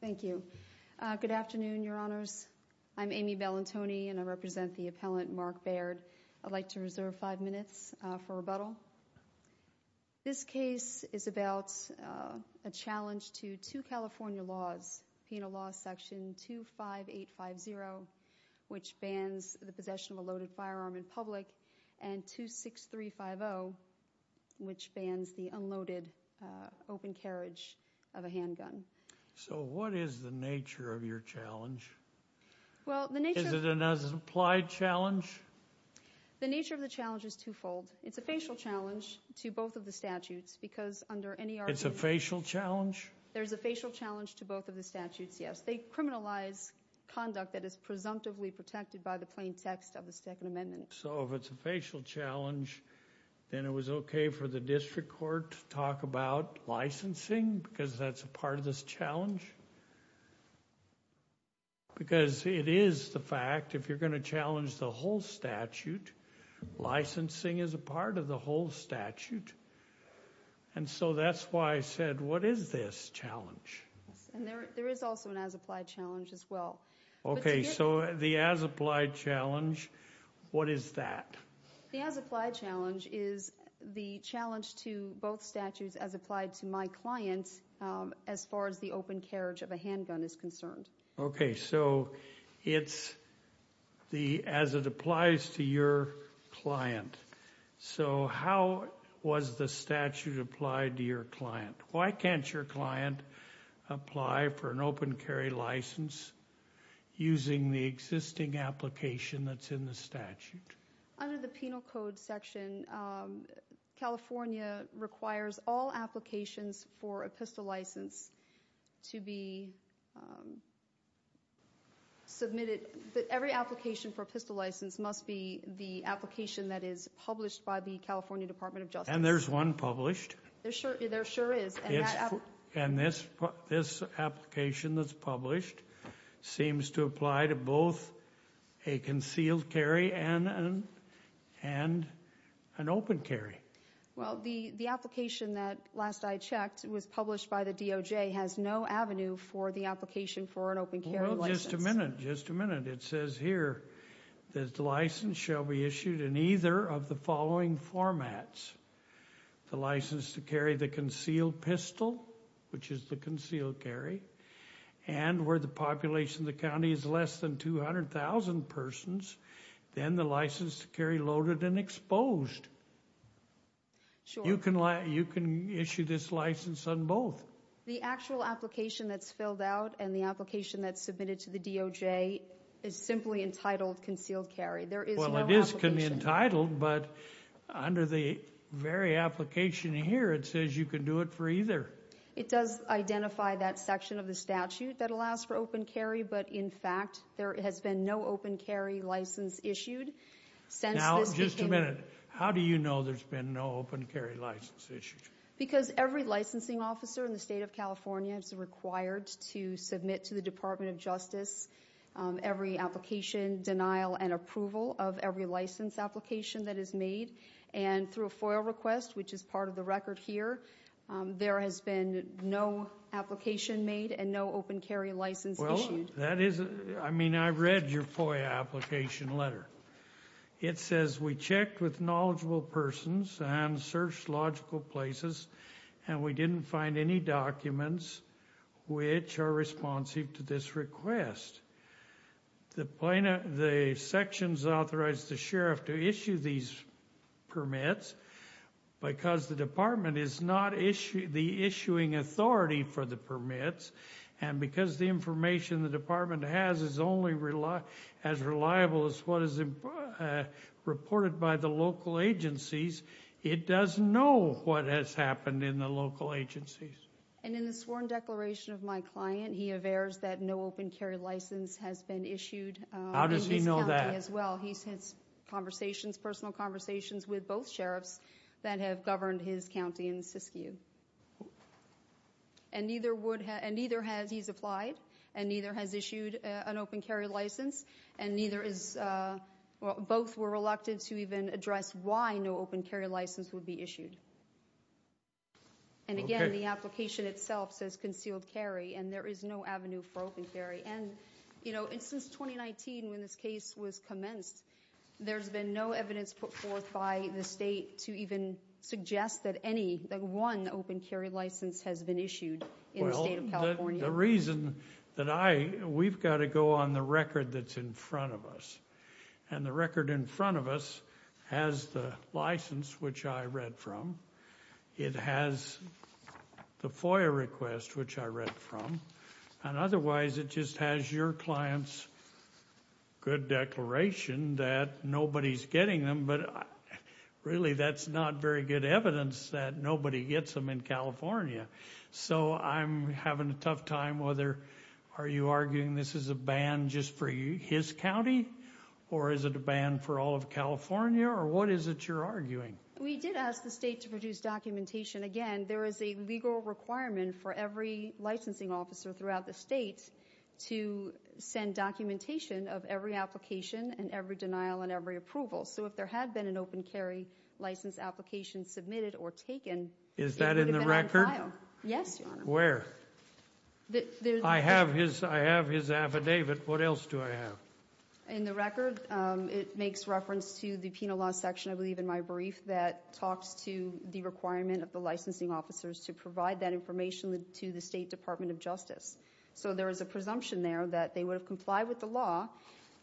Thank you. Good afternoon, Your Honors. I'm Amy Bellantoni, and I represent the appellant Mark Baird. I'd like to reserve five minutes for rebuttal. This case is about a challenge to two California laws, Penal Law Section 25850, which bans the possession of a loaded firearm in public, and 26350, which bans the unloaded open carriage of a handgun. So what is the nature of your challenge? Is it an as-implied challenge? The nature of the challenge is two-fold. It's a facial challenge to both of the statutes because under N.E.R. It's a facial challenge? There's a facial challenge to both of the statutes, yes. They criminalize conduct that is presumptively protected by the plain text of the Second Amendment. So if it's a facial challenge, then it was okay for the district court to talk about licensing because that's a part of this challenge? Because it is the fact, if you're going to challenge the whole statute, licensing is a part of the whole statute. And so that's why I said, what is this challenge? And there is also an as-implied challenge as well. Okay, so the as-implied challenge, what is that? The as-implied challenge is the challenge to both statutes as applied to my client as far as the open carriage of a handgun is concerned. Okay, so it's as it applies to your client. So how was the statute applied to your client? Why can't your client apply for an open carry license using the existing application that's in the statute? Under the penal code section, California requires all applications for a pistol license to be submitted. Every application for a pistol license must be the application that is published by the California Department of Justice. And there's one published. There sure is. And this application that's published seems to apply to both a concealed carry and an open carry. Well, the application that last I checked was published by the DOJ has no avenue for the application for an open carry license. Well, just a minute, just a minute. It says here that the license shall be issued in either of the following formats. The license to carry the concealed pistol, which is the concealed carry, and where the population of the county is less than 200,000 persons, then the license to carry loaded and exposed. You can issue this license on both. The actual application that's filled out and the application that's submitted to the DOJ is simply entitled concealed carry. Well, it is entitled, but under the very application here, it says you can do it for either. It does identify that section of the statute that allows for open carry, but in fact, there has been no open carry license issued since this beginning. Now, just a minute. How do you know there's been no open carry license issued? Because every licensing officer in the state of California is required to submit to the of every license application that is made, and through a FOIA request, which is part of the record here, there has been no application made and no open carry license issued. Well, that is, I mean, I read your FOIA application letter. It says, we checked with knowledgeable persons and searched logical places, and we didn't find any documents which are responsive to this request. The sections authorize the sheriff to issue these permits because the department is not the issuing authority for the permits, and because the information the department has is only as reliable as what is reported by the local agencies, it does know what has happened in the local agencies. And in the sworn declaration of my client, he averts that no open carry license has been issued in his county as well. He's had conversations, personal conversations, with both sheriffs that have governed his county in Siskiyou. And neither has, he's applied, and neither has issued an open carry license, and neither is, both were reluctant to even address why no open carry license would be issued. And again, the application itself says concealed carry, and there is no avenue for open carry. And, you know, since 2019, when this case was commenced, there's been no evidence put forth by the state to even suggest that any, that one open carry license has been issued in the state of California. The reason that I, we've got to go on the record that's in front of us, and the record in front of us has the license, which I read from, it has the FOIA request, which I read from, and otherwise it just has your client's good declaration that nobody's getting them, but really that's not very good evidence that nobody gets them in California. So I'm having a tough time whether, are you arguing this is a ban just for his county, or is it a ban for all of California, or what is it you're arguing? We did ask the state to produce documentation. Again, there is a legal requirement for every licensing officer throughout the state to send documentation of every application and every denial and every approval. So if there had been an open carry license application submitted or taken, it would have been on file. Is that in the record? Yes, Your Honor. Where? I have his, I have his affidavit. What else do I have? In the record, it makes reference to the penal law section, I believe, in my brief that talks to the requirement of the licensing officers to provide that information to the State Department of Justice. So there is a presumption there that they would have complied with the law,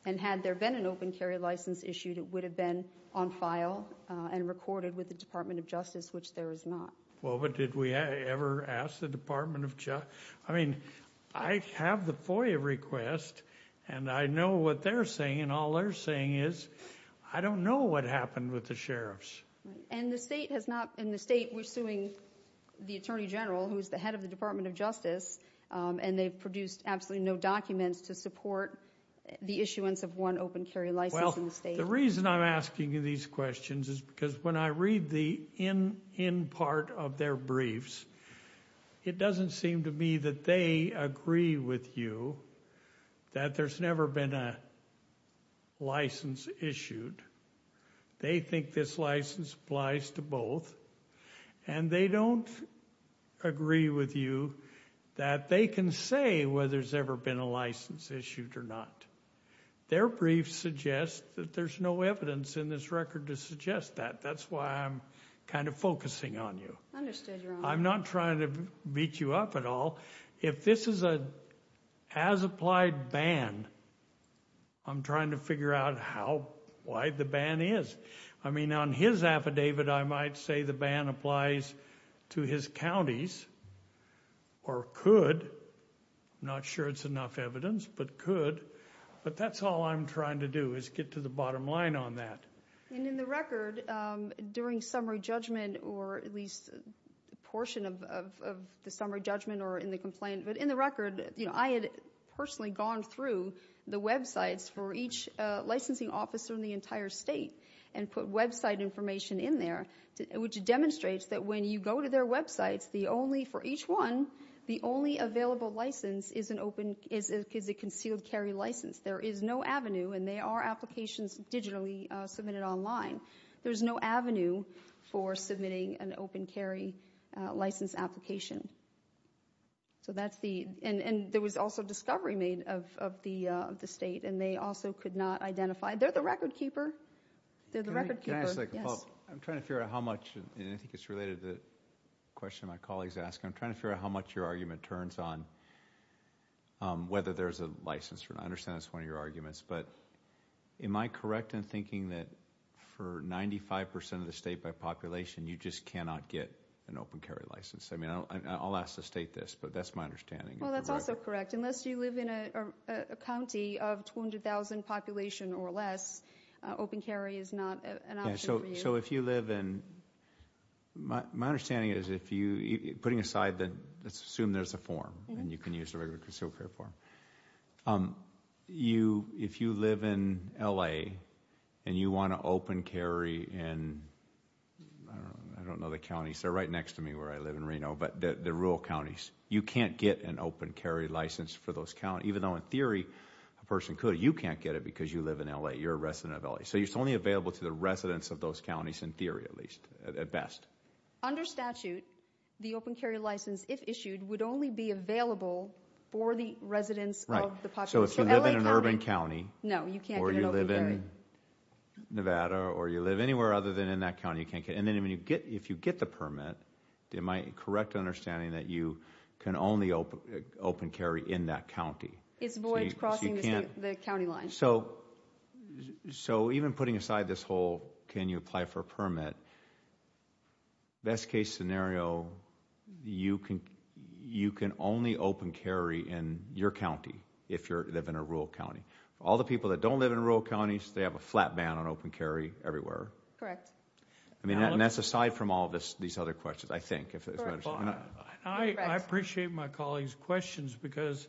and had there been an open carry license issued, it would have been on file and recorded with the Department of Justice, which there is not. Well, but did we ever ask the Department of, I mean, I have the FOIA request, and I know what they're saying, and all they're saying is, I don't know what happened with the sheriffs. And the state has not, in the state, we're suing the Attorney General, who is the head of the Department of Justice, and they've produced absolutely no documents to support the issuance of one open carry license in the state. Well, the reason I'm asking you these questions is because when I read the end part of their briefs, it doesn't seem to me that they agree with you that there's never been a license issued. They think this license applies to both, and they don't agree with you that they can say whether there's ever been a license issued or not. Their briefs suggest that there's no evidence in this record to suggest that. That's why I'm kind of focusing on you. Understood, Your Honor. I'm not trying to beat you up at all. If this is an as-applied ban, I'm trying to figure out how, why the ban is. I mean, on his affidavit, I might say the ban applies to his counties, or could. Not sure it's enough evidence, but could. But that's all I'm trying to do, is get to the bottom line on that. And in the record, during summary judgment, or at least a portion of the summary judgment or in the complaint, but in the record, you know, I had personally gone through the websites for each licensing officer in the entire state and put website information in there, which demonstrates that when you go to their websites, the only, for each one, the only available license is a concealed carry license. There is no avenue, and there are applications digitally submitted online. There's no avenue for submitting an open carry license application. So that's the, and there was also discovery made of the state, and they also could not identify, they're the record keeper. They're the record keeper. Can I ask a follow-up? Yes. I'm trying to figure out how much, and I think it's related to the question my colleagues asked, I'm trying to figure out how much your argument turns on whether there's a license for it. I understand that's one of your arguments, but am I correct in thinking that for 95 percent of the state by population, you just cannot get an open carry license? I mean, I'll ask the state this, but that's my understanding. Well, that's also correct. Unless you live in a county of 200,000 population or less, open carry is not an option for you. So if you live in, my understanding is if you, putting aside the, let's assume there's a form, and you can use the regular concealed carry form, if you live in L.A. and you want to open carry in, I don't know the counties, they're right next to me where I live in Reno, but they're rural counties, you can't get an open carry license for those counties, even though in theory a person could. You can't get it because you live in L.A., you're a resident of L.A. So it's only available to the residents of those counties, in theory at least, at best. Under statute, the open carry license, if issued, would only be available for the residents of the population. So if you live in an urban county. No, you can't get an open carry. Or you live in Nevada, or you live anywhere other than in that county, you can't get, and then if you get the permit, my correct understanding that you can only open carry in that county. It's void crossing the county line. So even putting aside this whole can you apply for a permit, best case scenario, you can only open carry in your county, if you live in a rural county. All the people that don't live in rural counties, they have a flat ban on open carry everywhere. Correct. I mean, and that's aside from all of these other questions, I think, if that's what you're saying. I appreciate my colleagues' questions, because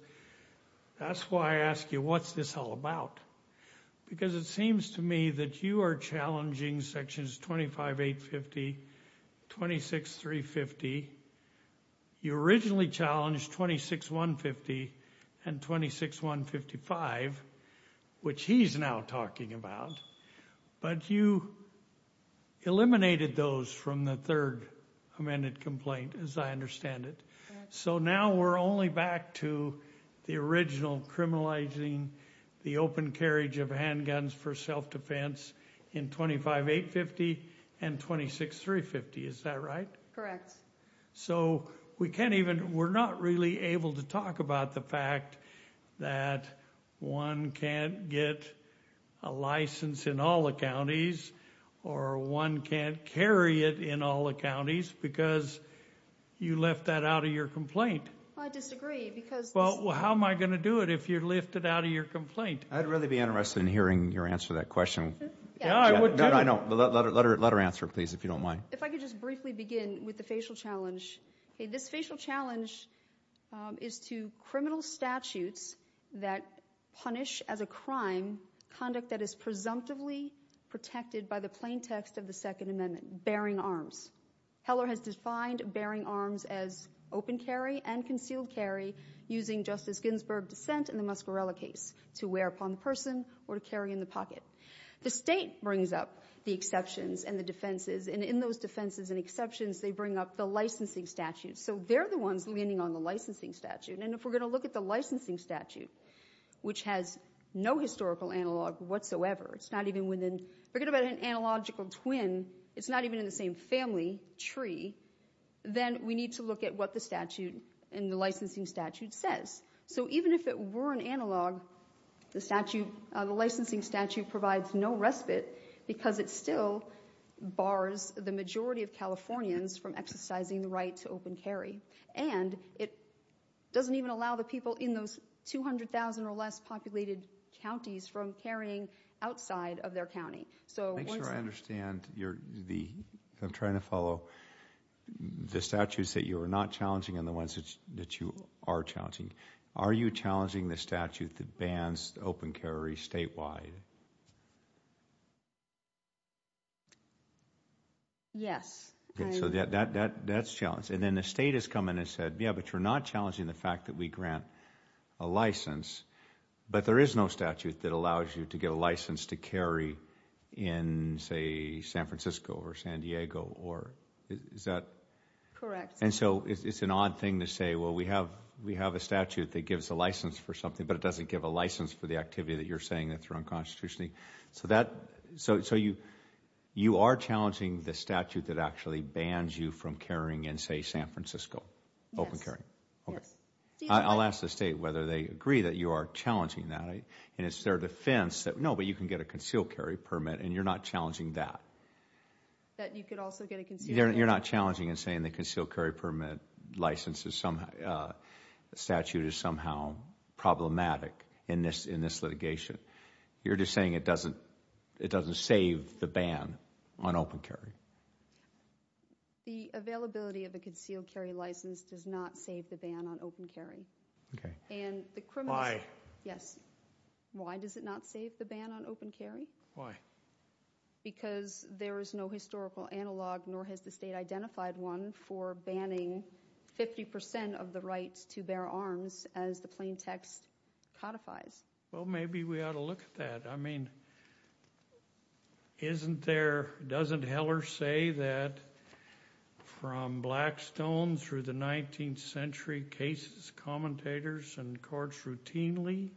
that's why I ask you, what's this all about? Because it seems to me that you are challenging sections 25850, 26350. You originally challenged 26150 and 26155, which he's now talking about, but you eliminated those from the third amended complaint, as I understand it. So now we're only back to the original criminalizing the open carriage of handguns for self-defense in 25850 and 26350, is that right? Correct. So we can't even, we're not really able to talk about the fact that one can't get a license in all the counties, or one can't carry it in all the counties, because you left that out of your complaint. Well, I disagree, because... Well, how am I going to do it if you lift it out of your complaint? I'd really be interested in hearing your answer to that question. Yeah, I would... No, no, no. Let her answer, please, if you don't mind. If I could just briefly begin with the facial challenge. This facial challenge is to criminal statutes that punish as a crime conduct that is presumptive protected by the plain text of the second amendment, bearing arms. Heller has defined bearing arms as open carry and concealed carry using Justice Ginsburg's dissent in the Muscarella case to wear upon the person or to carry in the pocket. The state brings up the exceptions and the defenses, and in those defenses and exceptions they bring up the licensing statutes. So they're the ones leaning on the licensing statute, and if we're going to look at the licensing statute, which has no historical analog whatsoever, it's not even within... Forget about an analogical twin, it's not even in the same family tree, then we need to look at what the statute and the licensing statute says. So even if it were an analog, the licensing statute provides no respite because it still bars the majority of Californians from exercising the right to open carry, and it doesn't even allow the people in those 200,000 or less populated counties from carrying outside of their county. So once... Make sure I understand. I'm trying to follow. The statutes that you are not challenging and the ones that you are challenging. Are you challenging the statute that bans the open carry statewide? Yes. Okay, so that's challenged. And then the state has come in and said, yeah, but you're not challenging the fact that we grant a license, but there is no statute that allows you to get a license to carry in, say, San Francisco or San Diego or... Is that... Correct. And so it's an odd thing to say, well, we have a statute that gives a license for something, but it doesn't give a license for the activity that you're saying that's wrong constitutionally. So that... So you are challenging the statute that actually bans you from carrying in, say, San Francisco, open carry? Yes. I'll ask the state whether they agree that you are challenging that, and it's their defense that, no, but you can get a concealed carry permit, and you're not challenging that. That you could also get a concealed carry permit. You're not challenging and saying the concealed carry permit license is somehow, the statute is somehow problematic in this litigation. You're just saying it doesn't save the ban on open carry. The availability of a concealed carry license does not save the ban on open carry. And the criminal... Yes. Why does it not save the ban on open carry? Why? Because there is no historical analog, nor has the state identified one for banning 50% of the rights to bear arms as the plain text codifies. Well, maybe we ought to look at that. I mean, isn't there... Doesn't Heller say that from Blackstone through the 19th century cases, commentators and courts routinely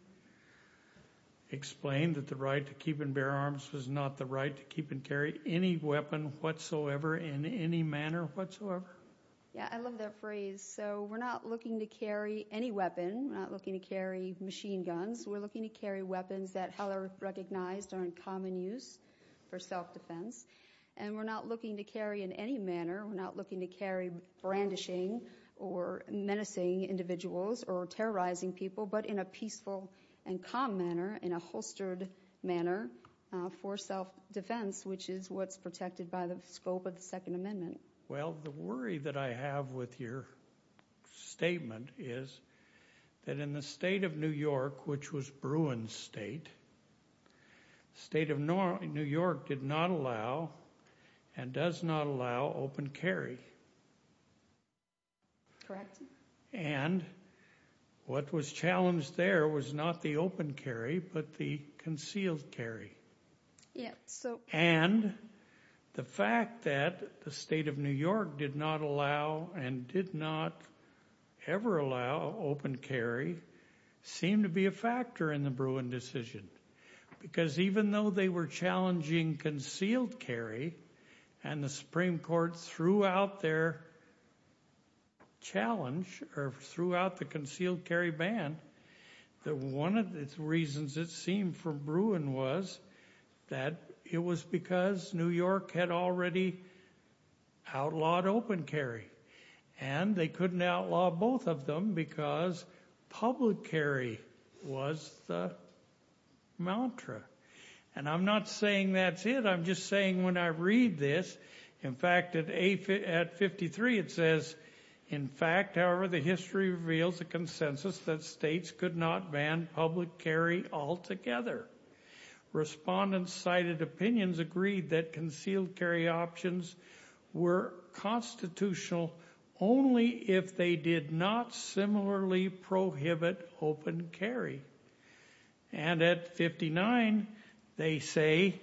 explained that the right to keep and bear arms was not the right to keep and carry any weapon whatsoever in any manner whatsoever? Yeah, I love that phrase. So we're not looking to carry any weapon. We're not looking to carry machine guns. We're looking to carry weapons that Heller recognized are in common use for self-defense. And we're not looking to carry in any manner, we're not looking to carry brandishing or menacing individuals or terrorizing people, but in a peaceful and calm manner, in a holstered manner for self-defense, which is what's protected by the scope of the Second Amendment. Well, the worry that I have with your statement is that in the state of New York, which was Bruin State, the state of New York did not allow and does not allow open carry. Correct. And what was challenged there was not the open carry, but the concealed carry. And the fact that the state of New York did not allow and did not ever allow open carry seemed to be a factor in the Bruin decision. Because even though they were challenging concealed carry, and the Supreme Court threw out their challenge, or threw out the concealed carry ban, that one of the reasons it seemed for Bruin was that it was because New York had already outlawed open carry. And they couldn't outlaw both of them because public carry was the mantra. And I'm not saying that's it. I'm just saying when I read this, in fact, at 53, it says, in fact, however, the history reveals a consensus that states could not ban public carry altogether. Respondents cited opinions agreed that concealed carry options were constitutional only if they did not similarly prohibit open carry. And at 59, they say,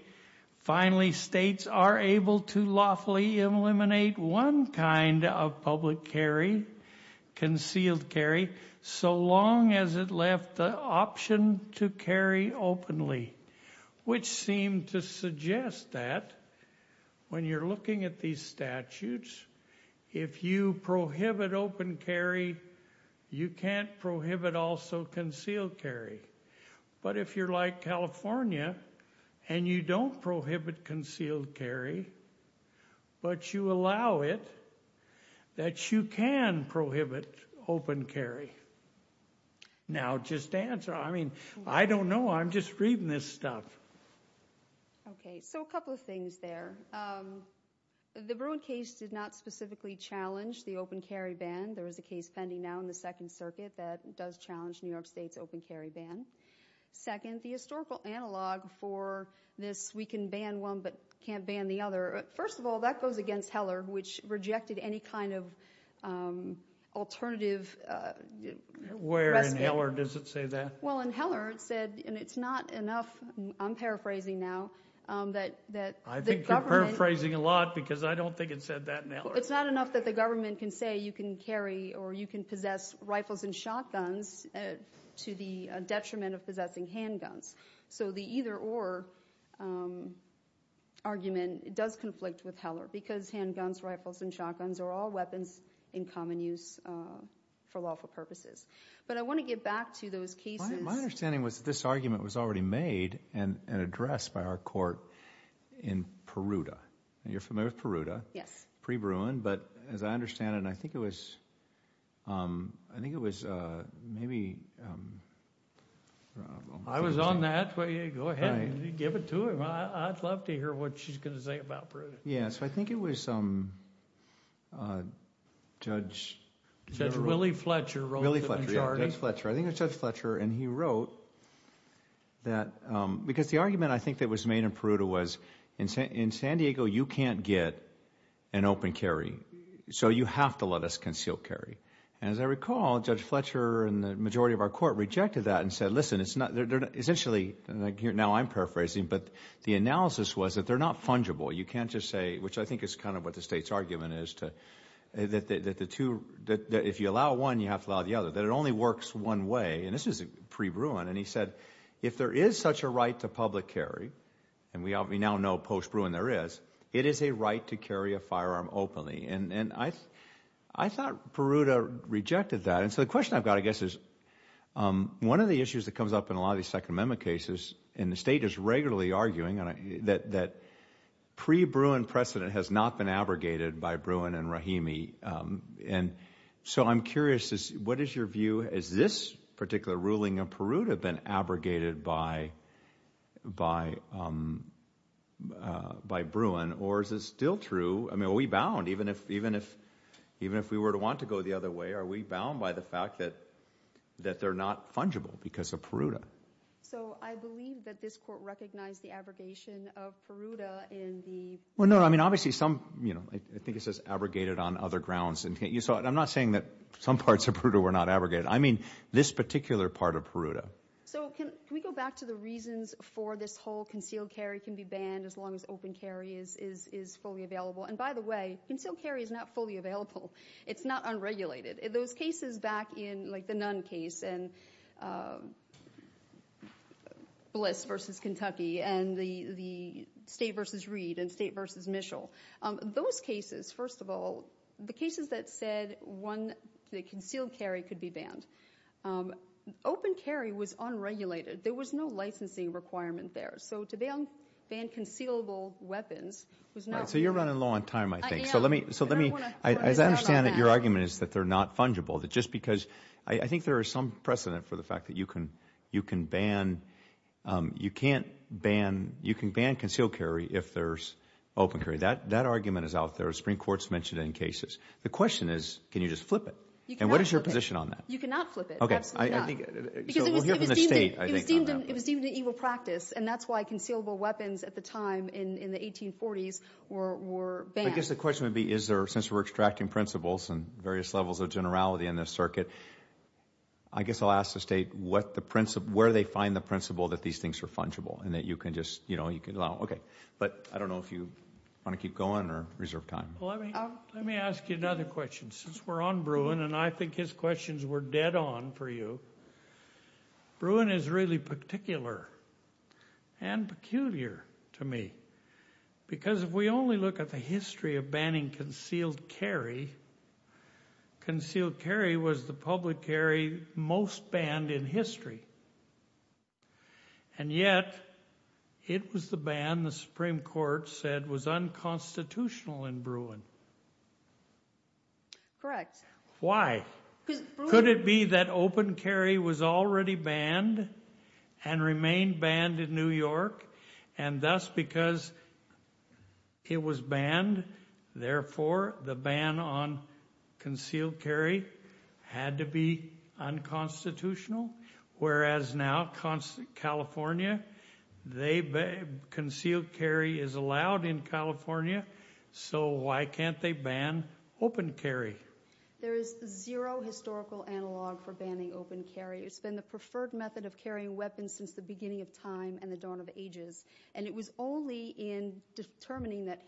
finally, states are able to lawfully eliminate one kind of public carry, concealed carry, so long as it left the option to carry openly, which seemed to suggest that when you're looking at these statutes, if you prohibit open carry, you can't prohibit also concealed carry. But if you're like California, and you don't prohibit concealed carry, but you allow it, that you can prohibit open carry. Now just answer. I mean, I don't know. I'm just reading this stuff. Okay. So a couple of things there. The Bruin case did not specifically challenge the open carry ban. There is a case pending now in the Second Circuit that does challenge New York State's open carry ban. Second, the historical analog for this, we can ban one but can't ban the other. First of all, that goes against Heller, which rejected any kind of alternative. Where in Heller does it say that? Well, in Heller, it said, and it's not enough, I'm paraphrasing now, that the government I think you're paraphrasing a lot because I don't think it said that in Heller. It's not enough that the government can say you can carry or you can possess rifles and shotguns to the detriment of possessing handguns. So the either or argument does conflict with Heller because handguns, rifles, and shotguns are all weapons in common use for lawful purposes. But I want to get back to those cases. My understanding was that this argument was already made and addressed by our court in And you're familiar with Peruta? Yes. Pre-Bruin. But as I understand it, and I think it was, I think it was maybe, I don't know. I was on that. Go ahead. Give it to him. I'd love to hear what she's going to say about Peruta. So I think it was Judge. Judge Willie Fletcher. Willie Fletcher, yeah. Judge Fletcher. I think it was Judge Fletcher. And he wrote that, because the argument I think that was made in Peruta was in San Diego, you can't get an open carry. So you have to let us conceal carry. As I recall, Judge Fletcher and the majority of our court rejected that and said, listen, essentially, now I'm paraphrasing, but the analysis was that they're not fungible. You can't just say, which I think is kind of what the state's argument is, that if you allow one, you have to allow the other, that it only works one way. And this was pre-Bruin. And he said, if there is such a right to public carry, and we now know post-Bruin there is, it is a right to carry a firearm openly. And I thought Peruta rejected that. And so the question I've got, I guess, is one of the issues that comes up in a lot of these Second Amendment cases, and the state is regularly arguing that pre-Bruin precedent has not been abrogated by Bruin and Rahimi. And so I'm curious, what is your view? Has this particular ruling in Peruta been abrogated by Bruin? Or is it still true? I mean, are we bound, even if we were to want to go the other way? Are we bound by the fact that they're not fungible because of Peruta? So I believe that this court recognized the abrogation of Peruta in the- Well, no, I mean, obviously some, you know, I think it says abrogated on other grounds. And I'm not saying that some parts of Peruta were not abrogated. I mean, this particular part of Peruta. So can we go back to the reasons for this whole concealed carry can be banned as long as open carry is fully available? And by the way, concealed carry is not fully available. It's not unregulated. Those cases back in, like the Nunn case, and Bliss versus Kentucky, and the State versus Reed and State versus Mischel, those cases, first of all, the cases that said one concealed carry could be banned, open carry was unregulated. There was no licensing requirement there. So to ban concealable weapons was not- So you're running low on time, I think. So let me, as I understand it, your argument is that they're not fungible. Just because, I think there is some precedent for the fact that you can ban, you can't ban, you can ban concealed carry if there's open carry. That argument is out there. The Supreme Court's mentioned it in cases. The question is, can you just flip it? And what is your position on that? You cannot flip it. Absolutely not. Because it was deemed an evil practice, and that's why concealable weapons at the time in the 1840s were banned. I guess the question would be, is there, since we're extracting principles and various levels of generality in this circuit, I guess I'll ask the State where they find the principle that these things are fungible, and that you can just, you know, you can allow, okay. But I don't know if you want to keep going or reserve time. Let me ask you another question. Since we're on Bruin, and I think his questions were dead on for you, Bruin is really particular and peculiar to me. Because if we only look at the history of banning concealed carry, concealed carry was the public carry most banned in history. And yet, it was the ban the Supreme Court said was unconstitutional in Bruin. Correct. Why? Could it be that open carry was already banned and remained banned in New York, and thus because it was banned, therefore the ban on concealed carry had to be unconstitutional? Whereas now California, they, concealed carry is allowed in California, so why can't they ban open carry? There is zero historical analog for banning open carry. It's been the preferred method of carrying weapons since the beginning of time and the dawn of ages. And it was only in determining that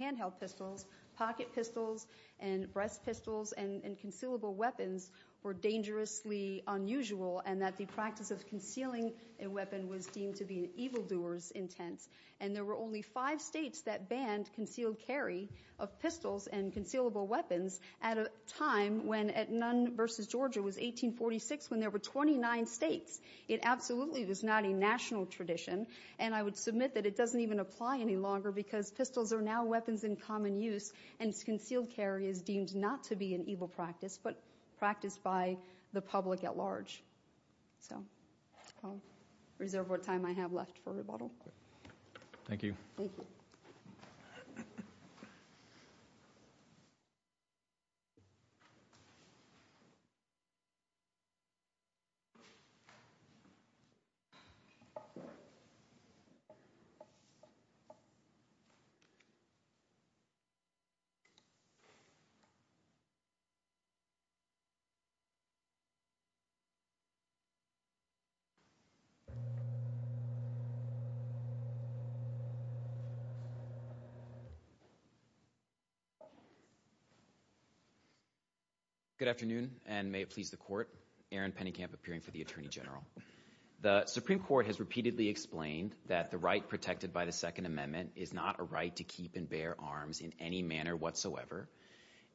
handheld pistols, pocket pistols, and breast pistols, and concealable weapons were dangerously unusual, and that the practice of concealing a weapon was deemed to be an evildoer's intent. And there were only five states that banned concealed carry of pistols and concealable weapons at a time when, at Nunn v. Georgia, it was 1846 when there were 29 states. It absolutely was not a national tradition, and I would submit that it doesn't even apply any longer because pistols are now weapons in common use, and concealed carry is deemed not to be an evil practice, but practiced by the public at large. So I'll reserve what time I have left for rebuttal. Thank you. Thank you. Good afternoon, and may it please the Court, Aaron Pennekamp, appearing for the Attorney General. The Supreme Court has repeatedly explained that the right protected by the Second Amendment is not a right to keep and bear arms in any manner whatsoever.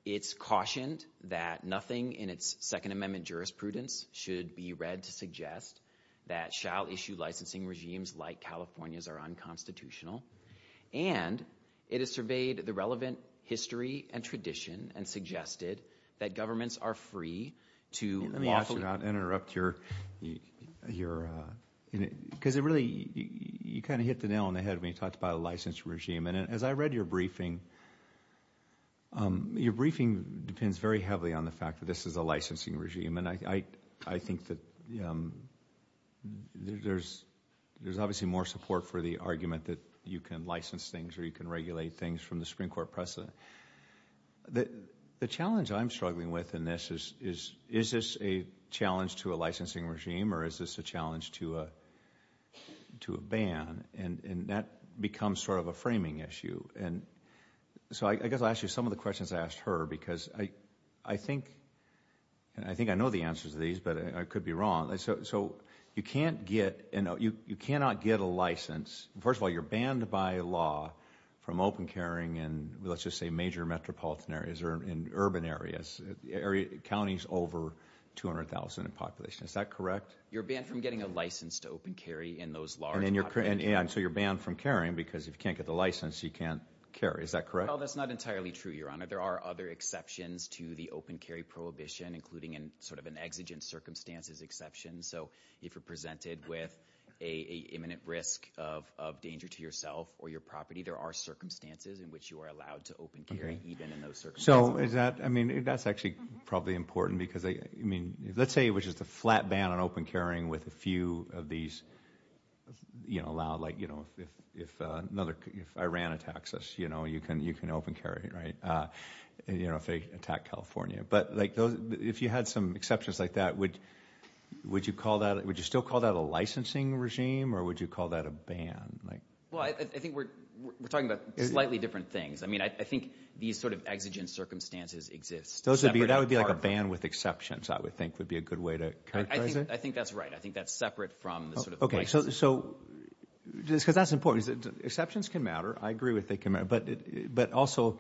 It's cautioned that nothing in its Second Amendment jurisprudence should be read to suggest that shall-issue licensing regimes like California's are unconstitutional, and it has surveyed the relevant history and tradition and suggested that governments are free to lawfully- Let me ask you, and I'll interrupt your, because it really, you kind of hit the nail on the Your briefing depends very heavily on the fact that this is a licensing regime, and I think that there's obviously more support for the argument that you can license things or you can regulate things from the Supreme Court precedent. The challenge I'm struggling with in this is, is this a challenge to a licensing regime or is this a challenge to a ban, and that becomes sort of a framing issue. So I guess I'll ask you some of the questions I asked her because I think, and I think I know the answers to these, but I could be wrong. So you can't get, you cannot get a license, first of all, you're banned by law from open carrying in, let's just say, major metropolitan areas or in urban areas, counties over 200,000 in population. Is that correct? You're banned from getting a license to open carry in those large populations. And so you're banned from carrying because if you can't get the license, you can't carry. Is that correct? Oh, that's not entirely true, Your Honor. There are other exceptions to the open carry prohibition, including in sort of an exigent circumstances exception. So if you're presented with a imminent risk of danger to yourself or your property, there are circumstances in which you are allowed to open carry even in those circumstances. So is that, I mean, that's actually probably important because, I mean, let's say it was the flat ban on open carrying with a few of these, you know, allowed, like, you know, if another, if Iran attacks us, you know, you can open carry, right, you know, if they attack California. But like those, if you had some exceptions like that, would you call that, would you still call that a licensing regime or would you call that a ban? Well, I think we're talking about slightly different things. I mean, I think these sort of exigent circumstances exist. Those would be, that would be like a ban with exceptions, I would think would be a good way to characterize it. I think that's right. I think that's separate from the sort of licensing. So, because that's important. Exceptions can matter. I agree with they can matter, but also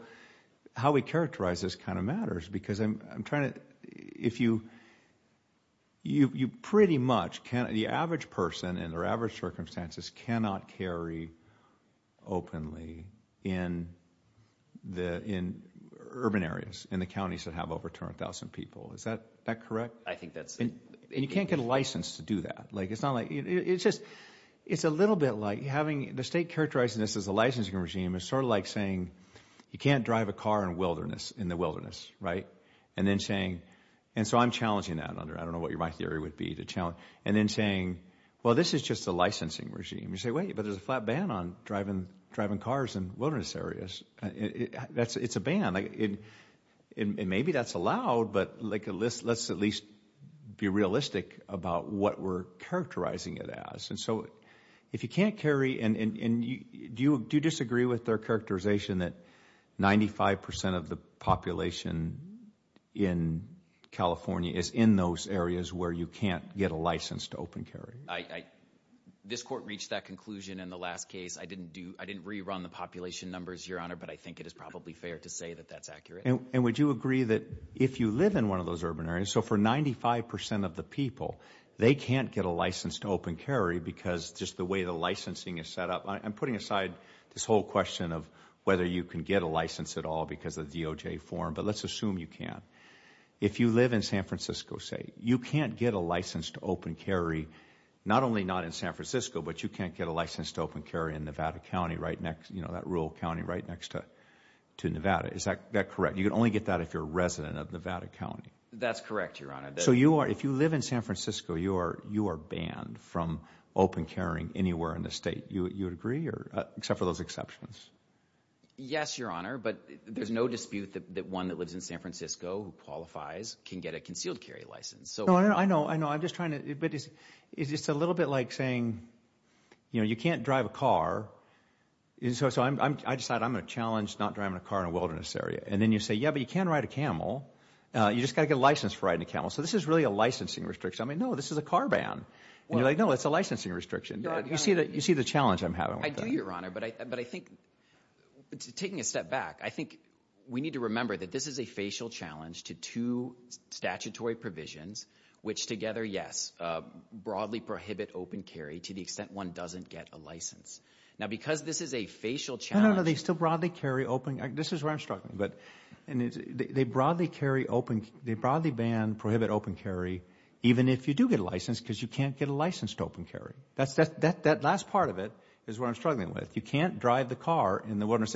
how we characterize this kind of matters because I'm trying to, if you, you pretty much can't, the average person in their average circumstances cannot carry openly in the, in urban areas, in the counties that have over 200,000 people. Is that correct? I think that's it. And you can't get a license to do that. Like it's not like, it's just, it's a little bit like having the state characterizing this as a licensing regime. It's sort of like saying you can't drive a car in wilderness, in the wilderness, right? And then saying, and so I'm challenging that under, I don't know what my theory would be to challenge. And then saying, well, this is just a licensing regime. You say, wait, but there's a flat ban on driving, driving cars in wilderness areas. It's a ban. And maybe that's allowed, but like a list, let's at least be realistic about what we're characterizing it as. And so if you can't carry and you do disagree with their characterization that 95% of the population in California is in those areas where you can't get a license to open carry. This court reached that conclusion in the last case. I didn't do, I didn't rerun the population numbers, your honor, but I think it is probably fair to say that that's accurate. And would you agree that if you live in one of those urban areas, so for 95% of the people, they can't get a license to open carry because just the way the licensing is set up. I'm putting aside this whole question of whether you can get a license at all because of DOJ form, but let's assume you can. If you live in San Francisco, say, you can't get a license to open carry, not only not in San Francisco, but you can't get a license to open carry in Nevada County, right next, you know, that rural county right next to Nevada. Is that correct? You can only get that if you're a resident of Nevada County. That's correct, your honor. So you are, if you live in San Francisco, you are banned from open carrying anywhere in the state. You would agree or, except for those exceptions. Yes, your honor. But there's no dispute that one that lives in San Francisco who qualifies can get a concealed carry license. No, I know. I know. I'm just trying to, but it's just a little bit like saying, you know, you can't drive a car. So I decided I'm going to challenge not driving a car in a wilderness area. And then you say, yeah, but you can ride a camel, you just got to get a license for riding a camel. So this is really a licensing restriction. I mean, no, this is a car ban. And you're like, no, it's a licensing restriction. You see the challenge I'm having with that. I do, your honor. But I think, taking a step back, I think we need to remember that this is a facial challenge to two statutory provisions, which together, yes, broadly prohibit open carry to the extent that one doesn't get a license. Now because this is a facial challenge. No, no, no. They still broadly carry open. This is where I'm struggling. But they broadly carry open, they broadly ban, prohibit open carry, even if you do get a license because you can't get a license to open carry. That last part of it is what I'm struggling with. You can't drive the car in the wilderness.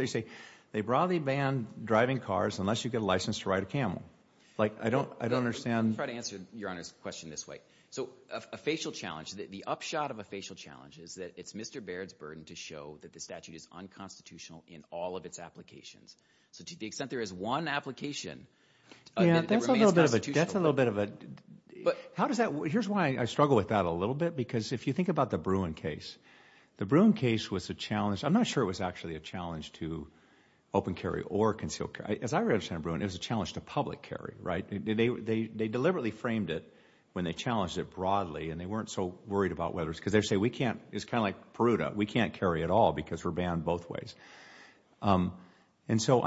They broadly ban driving cars unless you get a license to ride a camel. Like I don't understand. I'll try to answer your honor's question this way. So a facial challenge, the upshot of a facial challenge is that it's Mr. Baird's burden to show that the statute is unconstitutional in all of its applications. So to the extent there is one application, it remains constitutional. That's a little bit of a, how does that, here's why I struggle with that a little bit. Because if you think about the Bruin case, the Bruin case was a challenge. I'm not sure it was actually a challenge to open carry or concealed carry. As I understand Bruin, it was a challenge to public carry, right? They deliberately framed it when they challenged it broadly and they weren't so worried about whether it was, because they say we can't, it's kind of like Peruta, we can't carry at all because we're banned both ways. And so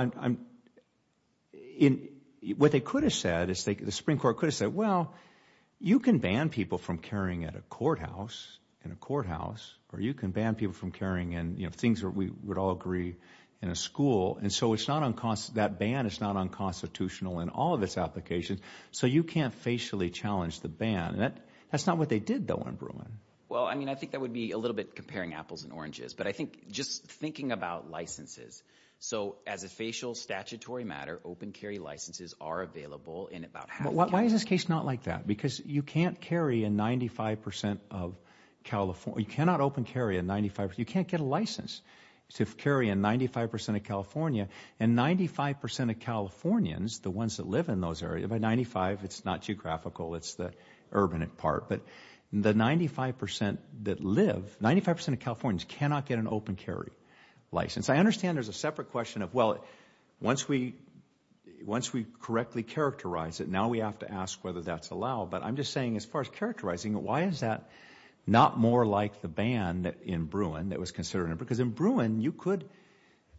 what they could have said is, the Supreme Court could have said, well, you can ban people from carrying at a courthouse, in a courthouse, or you can ban people from carrying in things that we would all agree in a school. And so it's not unconstitutional, that ban is not unconstitutional in all of its applications. So you can't facially challenge the ban. That's not what they did though in Bruin. Well, I mean, I think that would be a little bit comparing apples and oranges, but I think just thinking about licenses. So as a facial statutory matter, open carry licenses are available in about half the counties. Why is this case not like that? Because you can't carry a 95% of California, you cannot open carry a 95%, you can't get a license to carry a 95% of California. And 95% of Californians, the ones that live in those areas, by 95, it's not geographical, it's the urban part, but the 95% that live, 95% of Californians cannot get an open carry license. I understand there's a separate question of, well, once we correctly characterize it, now we have to ask whether that's allowed. But I'm just saying as far as characterizing, why is that not more like the ban in Bruin that was considered? Because in Bruin, you could,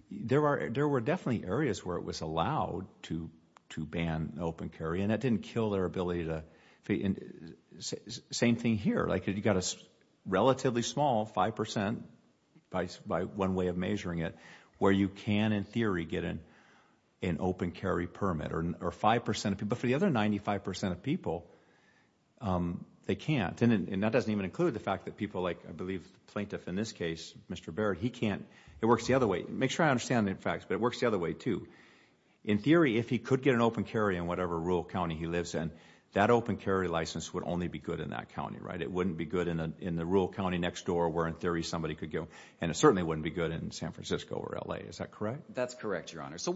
there were definitely areas where it was allowed to ban open carry and that didn't kill their ability to, same thing here. Like you got a relatively small 5% by one way of measuring it, where you can in theory get an open carry permit, or 5% of people, but for the other 95% of people, they can't. And that doesn't even include the fact that people like, I believe the plaintiff in this case, Mr. Barrett, he can't, it works the other way. Make sure I understand the facts, but it works the other way too. In theory, if he could get an open carry in whatever rural county he lives in, that open carry license would only be good in that county, right? It wouldn't be good in the rural county next door where in theory somebody could go, and it certainly wouldn't be good in San Francisco or L.A., is that correct? That's correct, Your Honor. So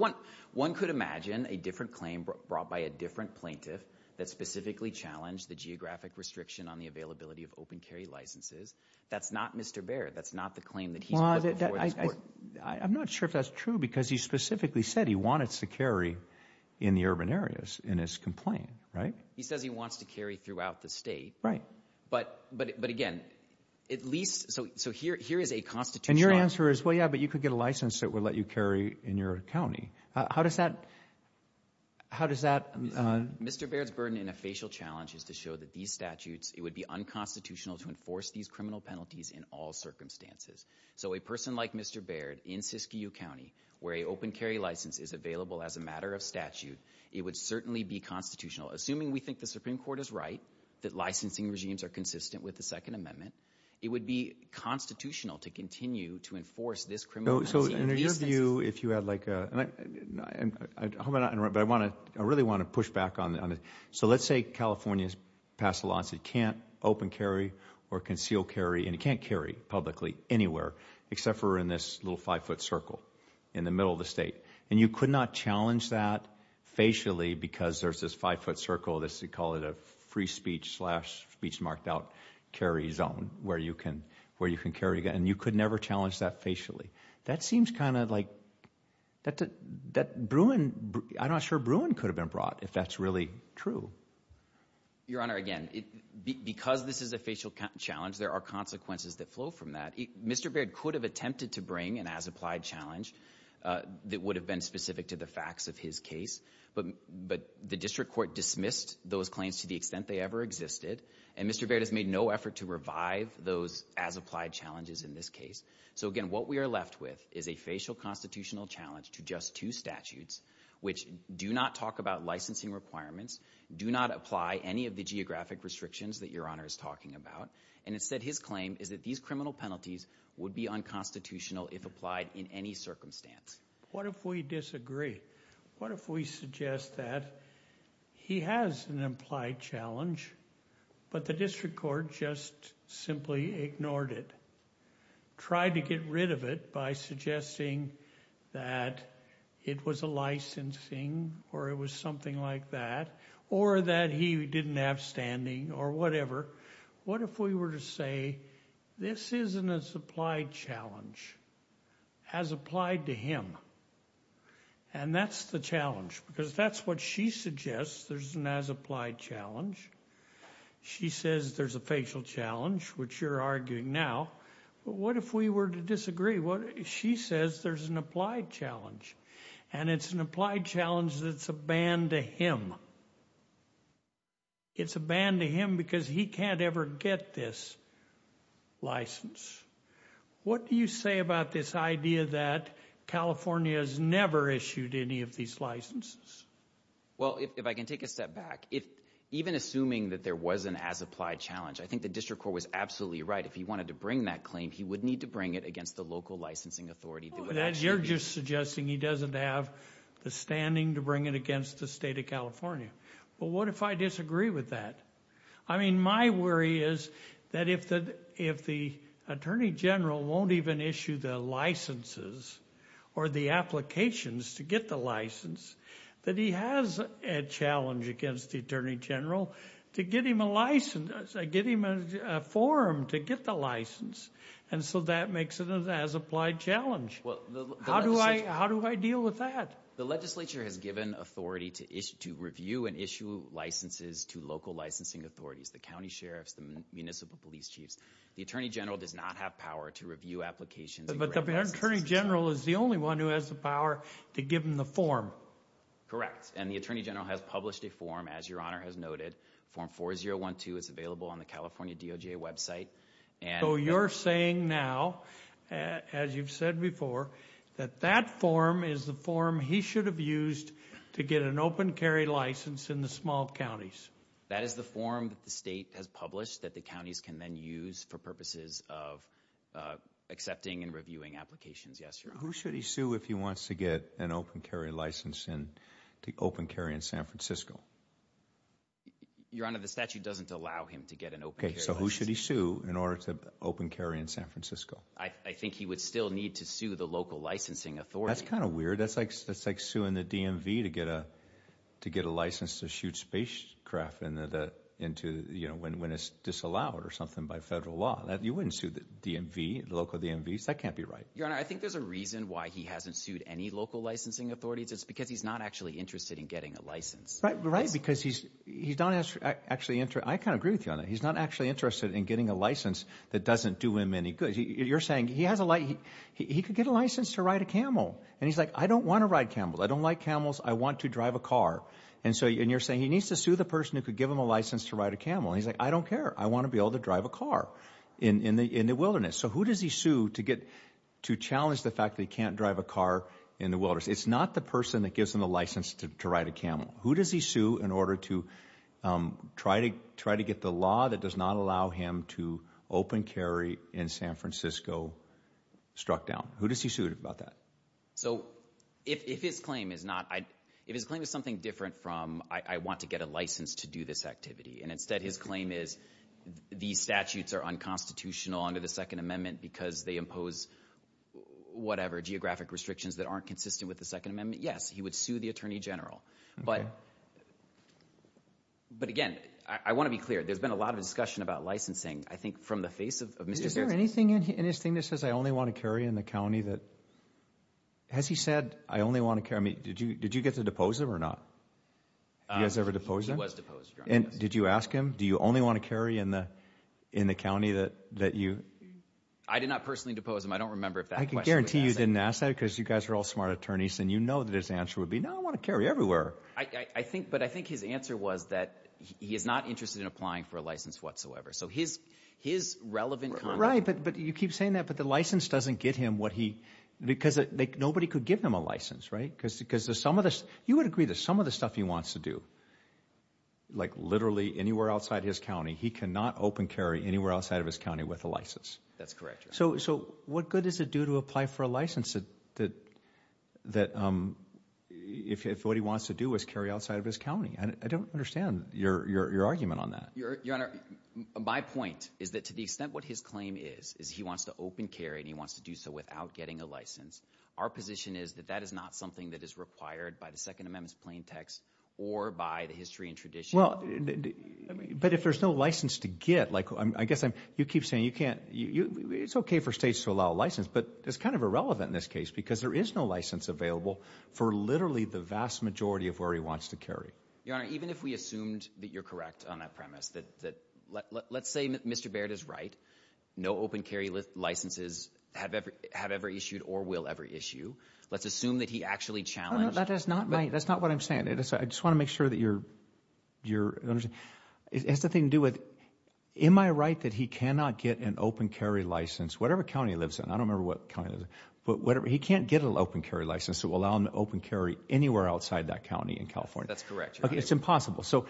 one could imagine a different claim brought by a different plaintiff that specifically challenged the geographic restriction on the availability of open carry licenses. That's not Mr. Barrett. That's not the claim that he's put before this court. I'm not sure if that's true, because he specifically said he wanted to carry in the urban areas in his complaint, right? He says he wants to carry throughout the state, but again, at least, so here is a constitutional And your answer is, well, yeah, but you could get a license that would let you carry in your county. How does that, how does that Mr. Barrett's burden in a facial challenge is to show that these statutes, it would be unconstitutional to enforce these criminal penalties in all circumstances. So a person like Mr. Barrett in Siskiyou County, where a open carry license is available as a matter of statute, it would certainly be constitutional, assuming we think the Supreme Court is right, that licensing regimes are consistent with the Second Amendment, it would be constitutional to continue to enforce this criminal penalty in these instances. So in your view, if you had like a, and I, and I hope I'm not interrupting, but I want to, I really want to push back on it. So let's say California has passed a law that says it can't open carry or conceal carry, and it can't carry publicly anywhere except for in this little five foot circle in the middle of the state. And you could not challenge that facially because there's this five foot circle, this, we call it a free speech slash speech marked out carry zone where you can, where you can carry again. And you could never challenge that facially. That seems kind of like, that, that Bruin, I'm not sure Bruin could have been brought if that's really true. Your Honor, again, because this is a facial challenge, there are consequences that flow from that. Mr. Baird could have attempted to bring an as applied challenge that would have been specific to the facts of his case, but, but the district court dismissed those claims to the extent they ever existed. And Mr. Baird has made no effort to revive those as applied challenges in this case. So again, what we are left with is a facial constitutional challenge to just two statutes, which do not talk about licensing requirements, do not apply any of the geographic restrictions that Your Honor is talking about. And it said his claim is that these criminal penalties would be unconstitutional if applied in any circumstance. What if we disagree? What if we suggest that he has an implied challenge, but the district court just simply ignored it? Tried to get rid of it by suggesting that it was a licensing or it was something like that, or that he didn't have standing or whatever. What if we were to say, this is an as applied challenge, as applied to him. And that's the challenge, because that's what she suggests, there's an as applied challenge. She says there's a facial challenge, which you're arguing now, but what if we were to disagree? What if she says there's an applied challenge and it's an applied challenge that's a ban to him? It's a ban to him because he can't ever get this license. What do you say about this idea that California has never issued any of these licenses? Well, if I can take a step back, even assuming that there was an as applied challenge, I think the district court was absolutely right. If he wanted to bring that claim, he would need to bring it against the local licensing authority. You're just suggesting he doesn't have the standing to bring it against the state of Well, what if I disagree with that? I mean, my worry is that if the attorney general won't even issue the licenses or the applications to get the license, that he has a challenge against the attorney general to get him a license, get him a form to get the license. And so that makes it an as applied challenge. How do I deal with that? The legislature has given authority to issue to review and issue licenses to local licensing authorities, the county sheriffs, the municipal police chiefs. The attorney general does not have power to review applications. But the attorney general is the only one who has the power to give him the form. And the attorney general has published a form, as your honor has noted, form 4012 is available on the California DOJ website. And you're saying now, as you've said before, that that form is the form he should have used to get an open carry license in the small counties. That is the form that the state has published that the counties can then use for purposes of accepting and reviewing applications. Yes, your honor. Who should he sue if he wants to get an open carry license in San Francisco? Your honor, the statute doesn't allow him to get an open carry license. So who should he sue in order to open carry in San Francisco? I think he would still need to sue the local licensing authority. That's kind of weird. That's like suing the DMV to get a license to shoot spacecraft into, you know, when it's disallowed or something by federal law. You wouldn't sue the DMV, the local DMVs. That can't be right. Your honor, I think there's a reason why he hasn't sued any local licensing authorities. It's because he's not actually interested in getting a license. Right, right. Because he's he's not actually interested. I kind of agree with you on that. He's not actually interested in getting a license that doesn't do him any good. You're saying he has a license. He could get a license to ride a camel and he's like, I don't want to ride camel. I don't like camels. I want to drive a car. And so and you're saying he needs to sue the person who could give him a license to ride a camel. He's like, I don't care. I want to be able to drive a car in the wilderness. So who does he sue to get to challenge the fact that he can't drive a car in the wilderness? It's not the person that gives him a license to ride a camel. Who does he sue in order to try to try to get the law that does not allow him to open carry in San Francisco struck down? Who does he sue about that? So if his claim is not, if his claim is something different from I want to get a license to do this activity. And instead, his claim is these statutes are unconstitutional under the Second Amendment because they impose whatever geographic restrictions that aren't consistent with the Second Amendment. Yes, he would sue the attorney general. But but again, I want to be clear. There's been a lot of discussion about licensing. I think from the face of is there anything in his thing that says I only want to carry in the county that has he said, I only want to carry me. Did you did you get to depose him or not? He has ever deposed. And did you ask him, do you only want to carry in the in the county that that you I did not personally depose him. I don't remember if I can guarantee you didn't ask that because you guys are all smart attorneys and you know that his answer would be, no, I want to carry everywhere, I think. But I think his answer was that he is not interested in applying for a license whatsoever. So his his relevant right. But you keep saying that. But the license doesn't get him what he because nobody could give him a license. Right. Right. Because because there's some of this, you would agree that some of the stuff he wants to do, like literally anywhere outside his county, he cannot open carry anywhere outside of his county with a license. That's correct. So so what good does it do to apply for a license that that that if what he wants to do is carry outside of his county? And I don't understand your your argument on that. Your Honor, my point is that to the extent what his claim is, is he wants to open carry and he wants to do so without getting a license. Our position is that that is not something that is required by the Second Amendment's plain text or by the history and tradition. Well, I mean, but if there's no license to get like I guess you keep saying you can't you it's OK for states to allow a license. But it's kind of irrelevant in this case because there is no license available for literally the vast majority of where he wants to carry your honor, even if we assumed that you're correct on that premise, that that let's say Mr. Baird is right. No open carry licenses have ever have ever issued or will ever issue. Let's assume that he actually challenged that is not right. That's not what I'm saying. I just want to make sure that you're you're it has nothing to do with. Am I right that he cannot get an open carry license? Whatever county lives in? I don't remember what kind of whatever he can't get an open carry license to allow him to open carry anywhere outside that county in California. That's correct. It's impossible. So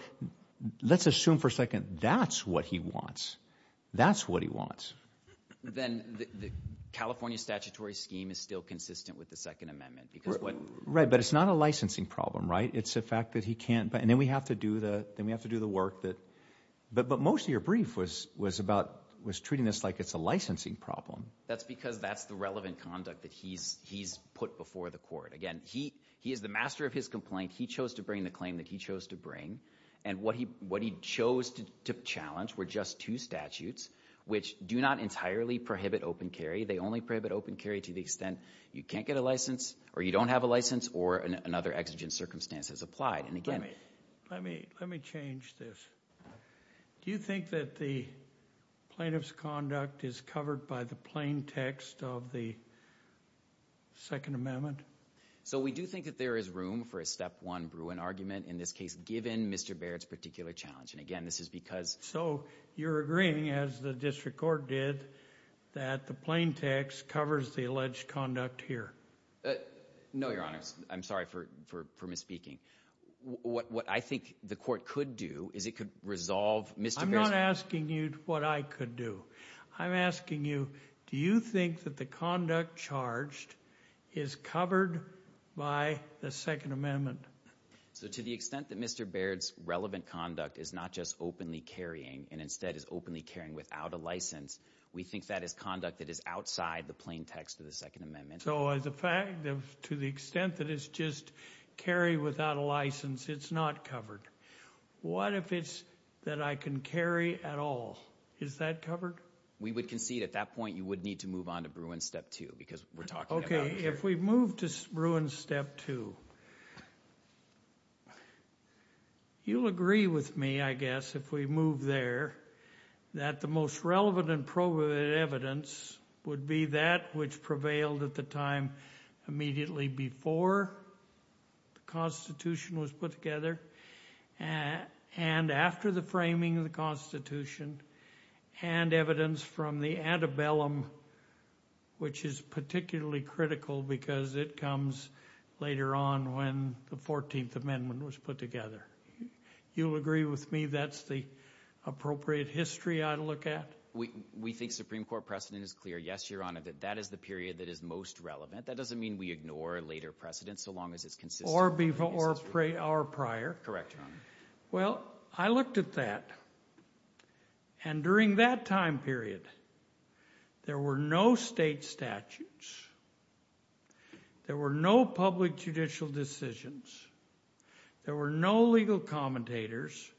let's assume for a second. That's what he wants. That's what he wants. Then the California statutory scheme is still consistent with the Second Amendment. Because what? Right. But it's not a licensing problem, right? It's a fact that he can't. And then we have to do that. Then we have to do the work that. But most of your brief was was about was treating this like it's a licensing problem. That's because that's the relevant conduct that he's he's put before the court. Again, he he is the master of his complaint. He chose to bring the claim that he chose to bring. And what he what he chose to challenge were just two statutes which do not entirely prohibit open carry. They only prohibit open carry to the extent you can't get a license or you don't have a license or another exigent circumstances applied. And again, let me let me change this. Do you think that the plaintiff's conduct is covered by the plain text of the Second Amendment? So we do think that there is room for a step one Bruin argument in this case, given Mr. Barrett's particular challenge. And again, this is because. So you're agreeing, as the district court did, that the plain text covers the alleged conduct here? No, Your Honor. I'm sorry for for for misspeaking. What I think the court could do is it could resolve Mr. I'm not asking you what I could do. I'm asking you, do you think that the conduct charged is covered by the Second Amendment? So to the extent that Mr. Barrett's relevant conduct is not just openly carrying and instead is openly carrying without a license, we think that is conduct that is outside the plain text of the Second Amendment. So as a fact, to the extent that it's just carry without a license, it's not covered. What if it's that I can carry at all? Is that covered? We would concede at that point you would need to move on to Bruin step two because we're talking. OK, if we move to Bruin step two. You'll agree with me, I guess, if we move there, that the most relevant and proven evidence would be that which prevailed at the time immediately before the Constitution was put together. And after the framing of the Constitution and evidence from the antebellum, which is particularly critical because it comes later on when the 14th Amendment was put together. You'll agree with me that's the appropriate history I look at. We think Supreme Court precedent is clear. Yes, Your Honor, that that is the period that is most relevant. That doesn't mean we ignore later precedents so long as it's consistent. Or before or prior. Correct, Your Honor. Well, I looked at that. And during that time period, there were no state statutes. There were no public judicial decisions. There were no legal commentators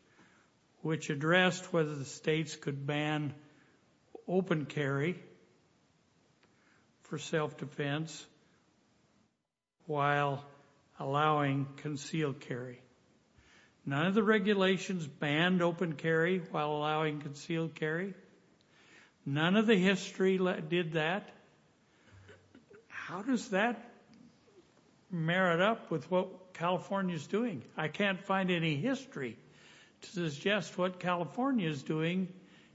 which addressed whether the states could ban open carry for self-defense while allowing concealed carry. None of the regulations banned open carry while allowing concealed carry. None of the history did that. How does that merit up with what California is doing? I can't find any history to suggest what California is doing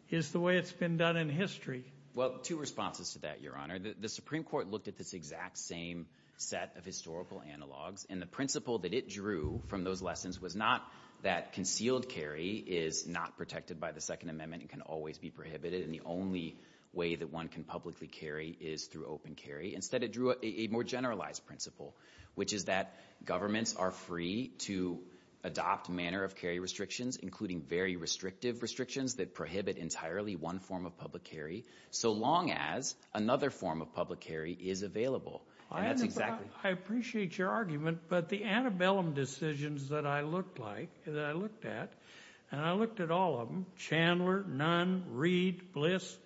is the way it's been done in history. Well, two responses to that, Your Honor. The Supreme Court looked at this exact same set of historical analogs and the principle that it drew from those lessons was not that concealed carry is not protected by the Second Amendment and can always be prohibited and the only way that one can publicly carry is through open carry. Instead, it drew a more generalized principle which is that governments are free to adopt manner of carry restrictions including very restrictive restrictions that prohibit entirely one form of public carry so long as another form of public carry is available. I appreciate your argument, but the antebellum decisions that I looked at, and I looked at all of them, Chandler, Nunn, Reed, Bliss,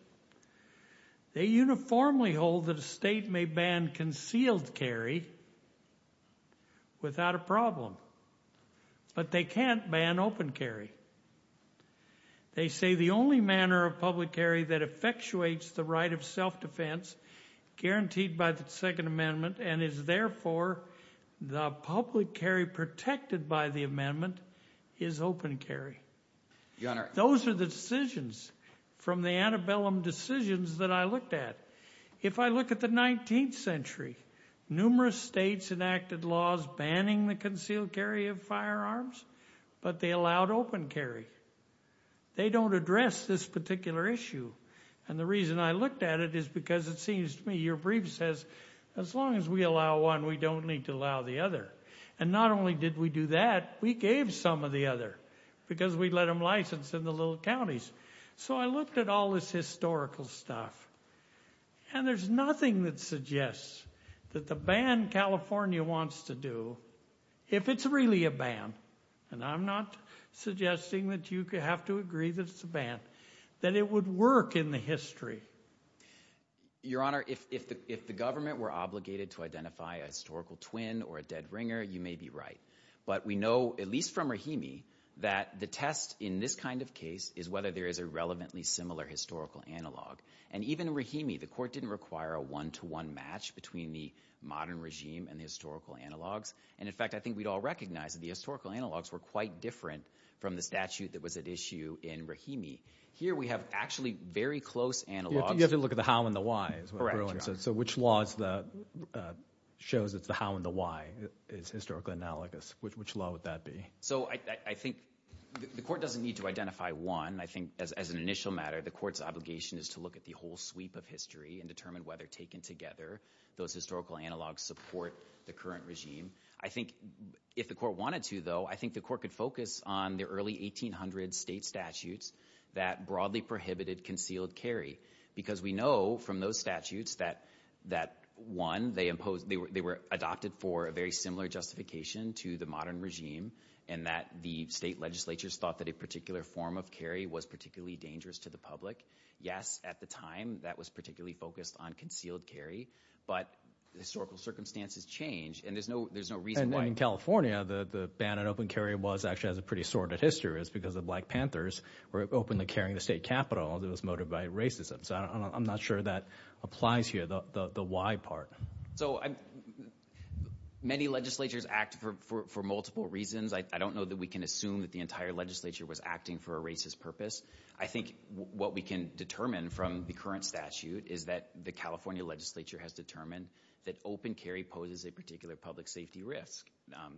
they uniformly hold that a state may ban concealed carry without a problem. But they can't ban open carry. They say the only manner of public carry that effectuates the right of self-defense guaranteed by the Second Amendment and is therefore the public carry protected by the amendment is open carry. Those are the decisions from the antebellum decisions that I looked at. If I look at the 19th century, numerous states enacted laws banning the concealed carry of firearms, but they allowed open carry. They don't address this particular issue and the reason I looked at it is because it seems to me your brief says as long as we allow one, we don't need to allow the other. And not only did we do that, we gave some of the other because we let them license in the little counties. So I looked at all this historical stuff and there's nothing that suggests that the ban California wants to do, if it's really a ban, and I'm not suggesting that you have to agree that it's a ban, that it would work in the history. Your Honor, if the government were obligated to identify a historical twin or a dead ringer, you may be right. But we know, at least from Rahimi, that the test in this kind of case is whether there is a relevantly similar historical analog. And even in Rahimi, the court didn't require a one-to-one match between the modern regime and the historical analogs. And in fact, I think we'd all recognize that the historical analogs were quite different from the statute that was at issue in Rahimi. Here we have actually very close analogs. You have to look at the how and the why. So which laws shows it's the how and the why is historically analogous? Which law would that be? So I think the court doesn't need to identify one. And I think, as an initial matter, the court's obligation is to look at the whole sweep of history and determine whether, taken together, those historical analogs support the current regime. I think, if the court wanted to, though, I think the court could focus on the early 1800 state statutes that broadly prohibited concealed carry. Because we know from those statutes that, one, they were adopted for a very similar justification to the modern regime, and that the state legislatures thought that a particular form of carry was particularly dangerous to the public. Yes, at the time, that was particularly focused on concealed carry. But historical circumstances change. And there's no reason why— And in California, the ban on open carry was actually has a pretty sordid history. It was because the Black Panthers were openly carrying the state capitol, and it was motivated by racism. So I'm not sure that applies here, the why part. So many legislatures act for multiple reasons. I don't know that we can assume that the entire legislature was acting for a racist purpose. I think what we can determine from the current statute is that the California legislature has determined that open carry poses a particular public safety risk.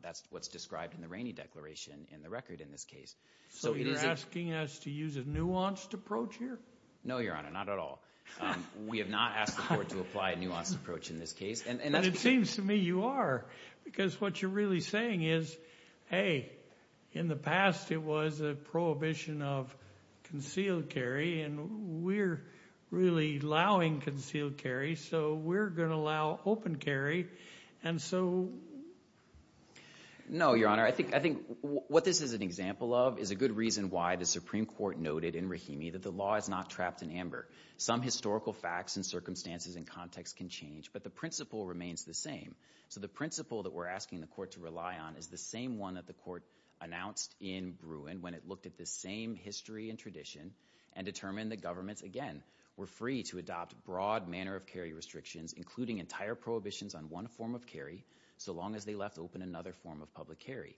That's what's described in the Rainey Declaration in the record in this case. So you're asking us to use a nuanced approach here? No, Your Honor, not at all. We have not asked the court to apply a nuanced approach in this case. And it seems to me you are, because what you're really saying is, hey, in the past it was a prohibition of concealed carry, and we're really allowing concealed carry, so we're going to allow open carry. And so— No, Your Honor, I think what this is an example of is a good reason why the Supreme Court noted in Rahimi that the law is not trapped in amber. Some historical facts and circumstances and context can change. But the principle remains the same. So the principle that we're asking the court to rely on is the same one that the court announced in Bruin when it looked at this same history and tradition and determined that governments, again, were free to adopt broad manner of carry restrictions, including entire prohibitions on one form of carry so long as they left open another form of public carry.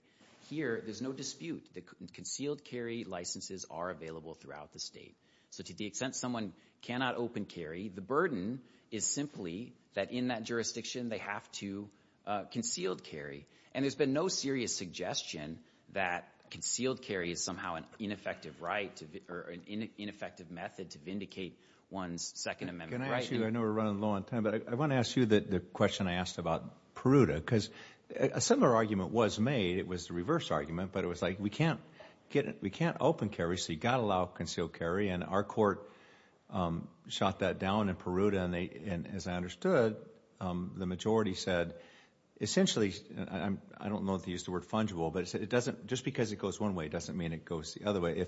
Here, there's no dispute that concealed carry licenses are available throughout the state. So to the extent someone cannot open carry, the burden is simply that in that jurisdiction they have to—concealed carry. And there's been no serious suggestion that concealed carry is somehow an ineffective right or an ineffective method to vindicate one's Second Amendment right. Can I ask you, I know we're running low on time, but I want to ask you the question I asked about Peruta, because a similar argument was made. It was the reverse argument, but it was like, we can't open carry, so you've got to allow concealed carry. And our court shot that down in Peruta, and as I understood, the majority said, essentially, I don't know if they used the word fungible, but it doesn't—just because it goes one way doesn't mean it goes the other way.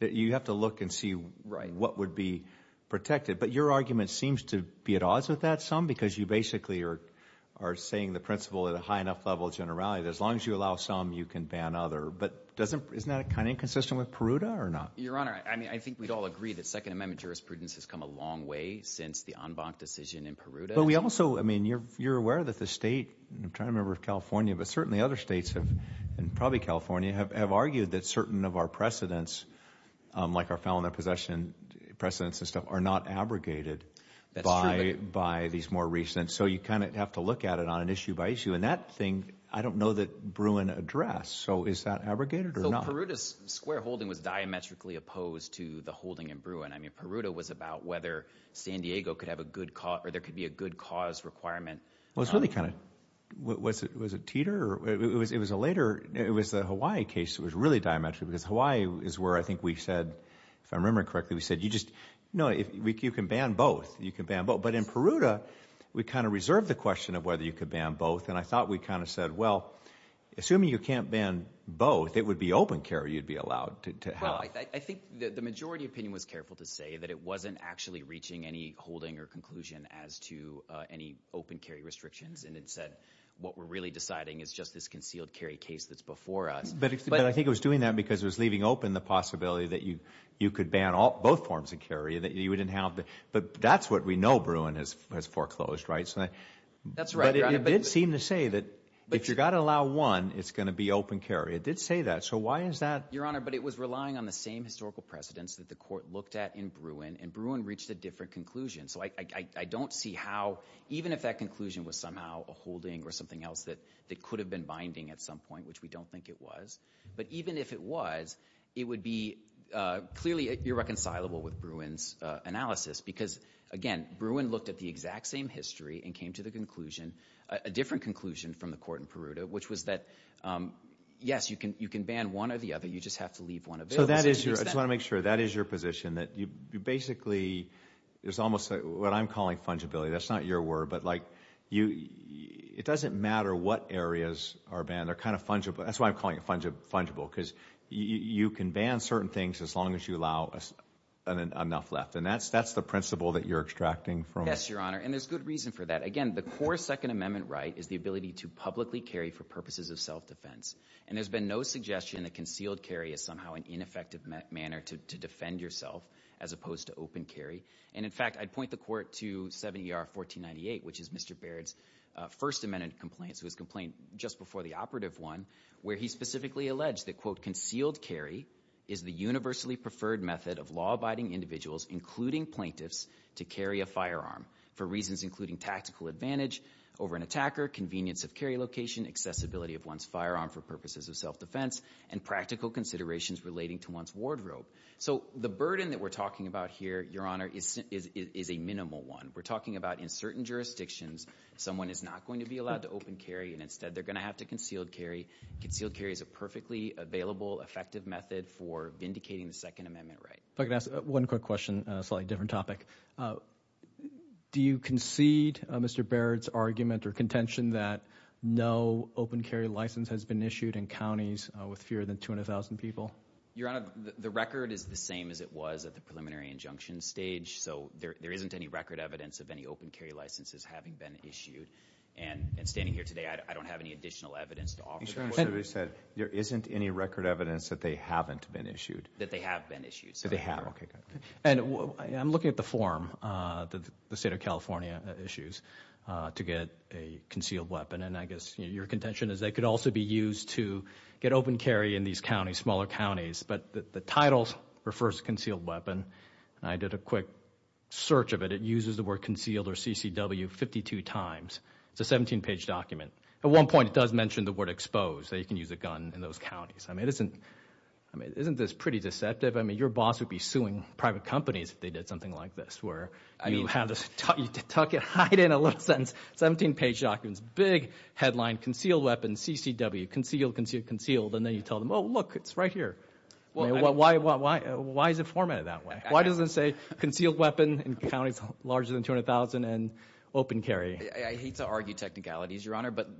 You have to look and see what would be protected. But your argument seems to be at odds with that some, because you basically are saying the principle at a high enough level of generality that as long as you allow some, you can ban other. But doesn't—isn't that kind of inconsistent with Peruta or not? Your Honor, I mean, I think we'd all agree that Second Amendment jurisprudence has come a long way since the Anbanc decision in Peruta. But we also, I mean, you're aware that the state—I'm trying to remember if California, but certainly other states have, and probably California, have argued that certain of our precedents, like our felon and possession precedents and stuff, are not abrogated by these more recent. So you kind of have to look at it on an issue by issue. And that thing, I don't know that Bruin addressed. So is that abrogated or not? So Peruta's square holding was diametrically opposed to the holding in Bruin. I mean, Peruta was about whether San Diego could have a good cause—or there could be a good cause requirement. Well, it was really kind of—was it Teeter? It was a later—it was the Hawaii case that was really diametrically—because Hawaii is where I think we said, if I'm remembering correctly, we said, you just—no, you can ban both. You can ban both. But in Peruta, we kind of reserved the question of whether you could ban both. And I thought we kind of said, well, assuming you can't ban both, it would be open carry you'd be allowed to have. Well, I think the majority opinion was careful to say that it wasn't actually reaching any holding or conclusion as to any open carry restrictions, and it said, what we're really deciding is just this concealed carry case that's before us. But I think it was doing that because it was leaving open the possibility that you could ban both forms of carry, that you wouldn't have—but that's what we know Bruin has foreclosed, right? That's right, Your Honor. But it did seem to say that if you've got to allow one, it's going to be open carry. It did say that. So why is that— Your Honor, but it was relying on the same historical precedents that the court looked at in Bruin, and Bruin reached a different conclusion. So I don't see how—even if that conclusion was somehow a holding or something else that could have been binding at some point, which we don't think it was, but even if it was, it would be clearly irreconcilable with Bruin's analysis because, again, Bruin looked at the exact same history and came to the conclusion, a different conclusion from the court in Peruta, which was that, yes, you can ban one or the other. You just have to leave one available. So that is your—I just want to make sure. That is your position, that you basically—it's almost what I'm calling fungibility. That's not your word, but like you—it doesn't matter what areas are banned. They're kind of fungible. That's why I'm calling it fungible, because you can ban certain things as long as you allow enough left, and that's the principle that you're extracting from— Yes, Your Honor, and there's good reason for that. Again, the core Second Amendment right is the ability to publicly carry for purposes of self-defense, and there's been no suggestion that concealed carry is somehow an ineffective manner to defend yourself as opposed to open carry. And in fact, I'd point the court to 7ER 1498, which is Mr. Baird's First Amendment complaint, so his complaint just before the operative one, where he specifically alleged that, quote, concealed carry is the universally preferred method of law-abiding individuals, including plaintiffs, to carry a firearm for reasons including tactical advantage over an attacker, convenience of carry location, accessibility of one's firearm for purposes of self-defense, and practical considerations relating to one's wardrobe. So the burden that we're talking about here, Your Honor, is a minimal one. We're talking about in certain jurisdictions, someone is not going to be allowed to open carry, and instead they're going to have to concealed carry. Concealed carry is a perfectly available, effective method for vindicating the Second Amendment right. If I could ask one quick question on a slightly different topic. Do you concede Mr. Baird's argument or contention that no open carry license has been issued in counties with fewer than 200,000 people? Your Honor, the record is the same as it was at the preliminary injunction stage, so there isn't any record evidence of any open carry licenses having been issued, and standing here today, I don't have any additional evidence to offer. Your Honor, sir, you said there isn't any record evidence that they haven't been issued. That they have been issued. So they have. Okay, good. And I'm looking at the form, the State of California issues, to get a concealed weapon, and I guess your contention is they could also be used to get open carry in these counties, smaller counties, but the title refers to concealed weapon, and I did a quick search of it. It uses the word concealed or CCW 52 times. It's a 17-page document. At one point, it does mention the word exposed, that you can use a gun in those counties. I mean, isn't this pretty deceptive? I mean, your boss would be suing private companies if they did something like this, where you have this, tuck it, hide it in a little sentence, 17-page documents, big headline, concealed weapon, CCW, concealed, concealed, concealed, and then you tell them, oh, look, it's right here. Why is it formatted that way? Why does it say concealed weapon in counties larger than 200,000 and open carry? I hate to argue technicalities, Your Honor, but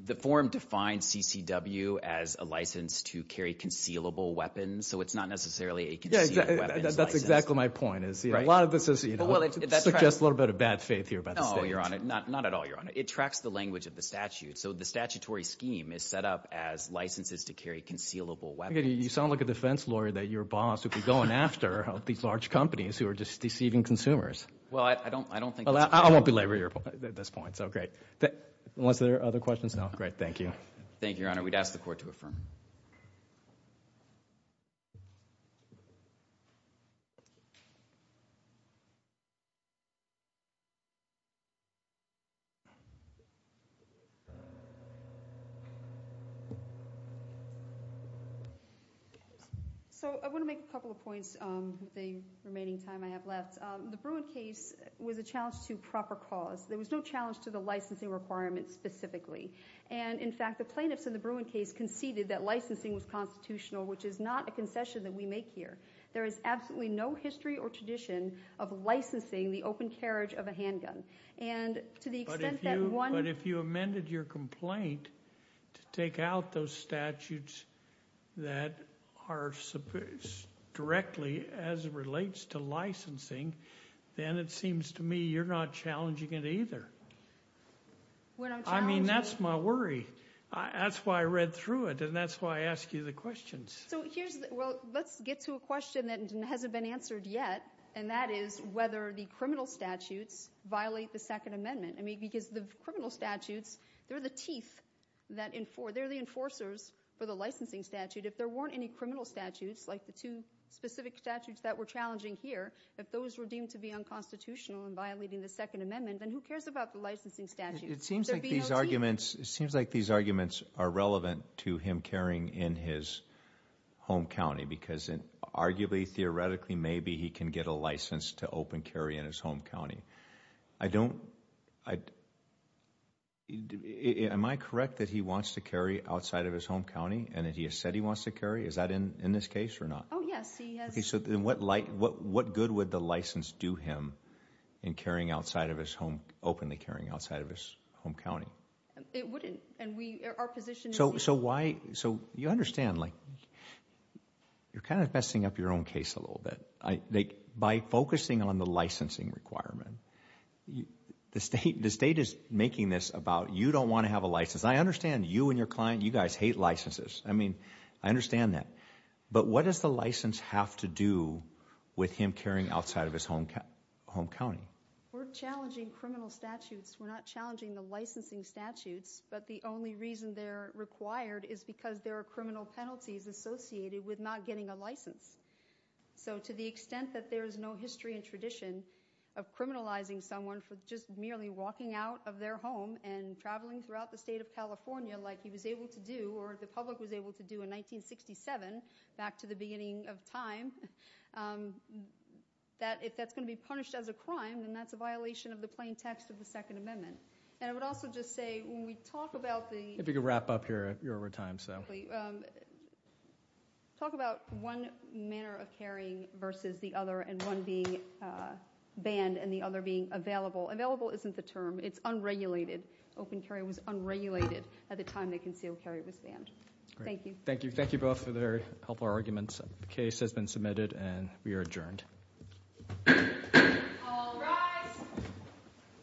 the form defines CCW as a license to carry concealable weapons, so it's not necessarily a concealed weapons license. That's exactly my point. A lot of this suggests a little bit of bad faith here about the statute. No, Your Honor. Not at all, Your Honor. It tracks the language of the statute, so the statutory scheme is set up as licenses to carry concealable weapons. You sound like a defense lawyer that your boss would be going after these large companies who are just deceiving consumers. Well, I don't think that's true. I won't belabor your point at this point, so great, unless there are other questions? No? Great, thank you. Thank you, Your Honor. We'd ask the court to affirm. So I want to make a couple of points with the remaining time I have left. The Bruin case was a challenge to proper cause. There was no challenge to the licensing requirements specifically, and in fact, the plaintiffs in the Bruin case conceded that licensing was constitutional, which is not a concession that we make here. There is absolutely no history or tradition of licensing the open carriage of a handgun, and to the extent that one- But if you amended your complaint to take out those statutes that are directly as it relates to licensing, then it seems to me you're not challenging it either. We're not challenging it. I mean, that's my worry. That's why I read through it, and that's why I ask you the questions. Well, let's get to a question that hasn't been answered yet, and that is whether the criminal statutes violate the Second Amendment, I mean, because the criminal statutes, they're the teeth, they're the enforcers for the licensing statute. If there weren't any criminal statutes, like the two specific statutes that we're challenging here, if those were deemed to be unconstitutional and violating the Second Amendment, then who cares about the licensing statute? There'd be no teeth. It seems like these arguments are relevant to him carrying in his home county, because arguably, theoretically, maybe he can get a license to open carry in his home county. I don't... Am I correct that he wants to carry outside of his home county, and that he has said he wants to carry? Is that in this case or not? Oh, yes. He has- Okay, so then what good would the license do him in carrying outside of his home, openly It wouldn't, and we... Our position is- So why... So you understand, you're kind of messing up your own case a little bit. By focusing on the licensing requirement, the state is making this about, you don't want to have a license. I understand you and your client, you guys hate licenses. I mean, I understand that, but what does the license have to do with him carrying outside of his home county? We're challenging criminal statutes. We're not challenging the licensing statutes, but the only reason they're required is because there are criminal penalties associated with not getting a license. So to the extent that there is no history and tradition of criminalizing someone for just merely walking out of their home and traveling throughout the state of California like he was able to do, or the public was able to do in 1967, back to the beginning of time, that if that's going to be punished as a crime, then that's a violation of the context of the Second Amendment. And I would also just say, when we talk about the- If you could wrap up here, you're over time, so... Talk about one manner of carrying versus the other, and one being banned and the other being available. Available isn't the term. It's unregulated. Open carry was unregulated at the time the concealed carry was banned. Thank you. Great. Thank you. Thank you both for the very helpful arguments. The case has been submitted, and we are adjourned. All rise. Thank you.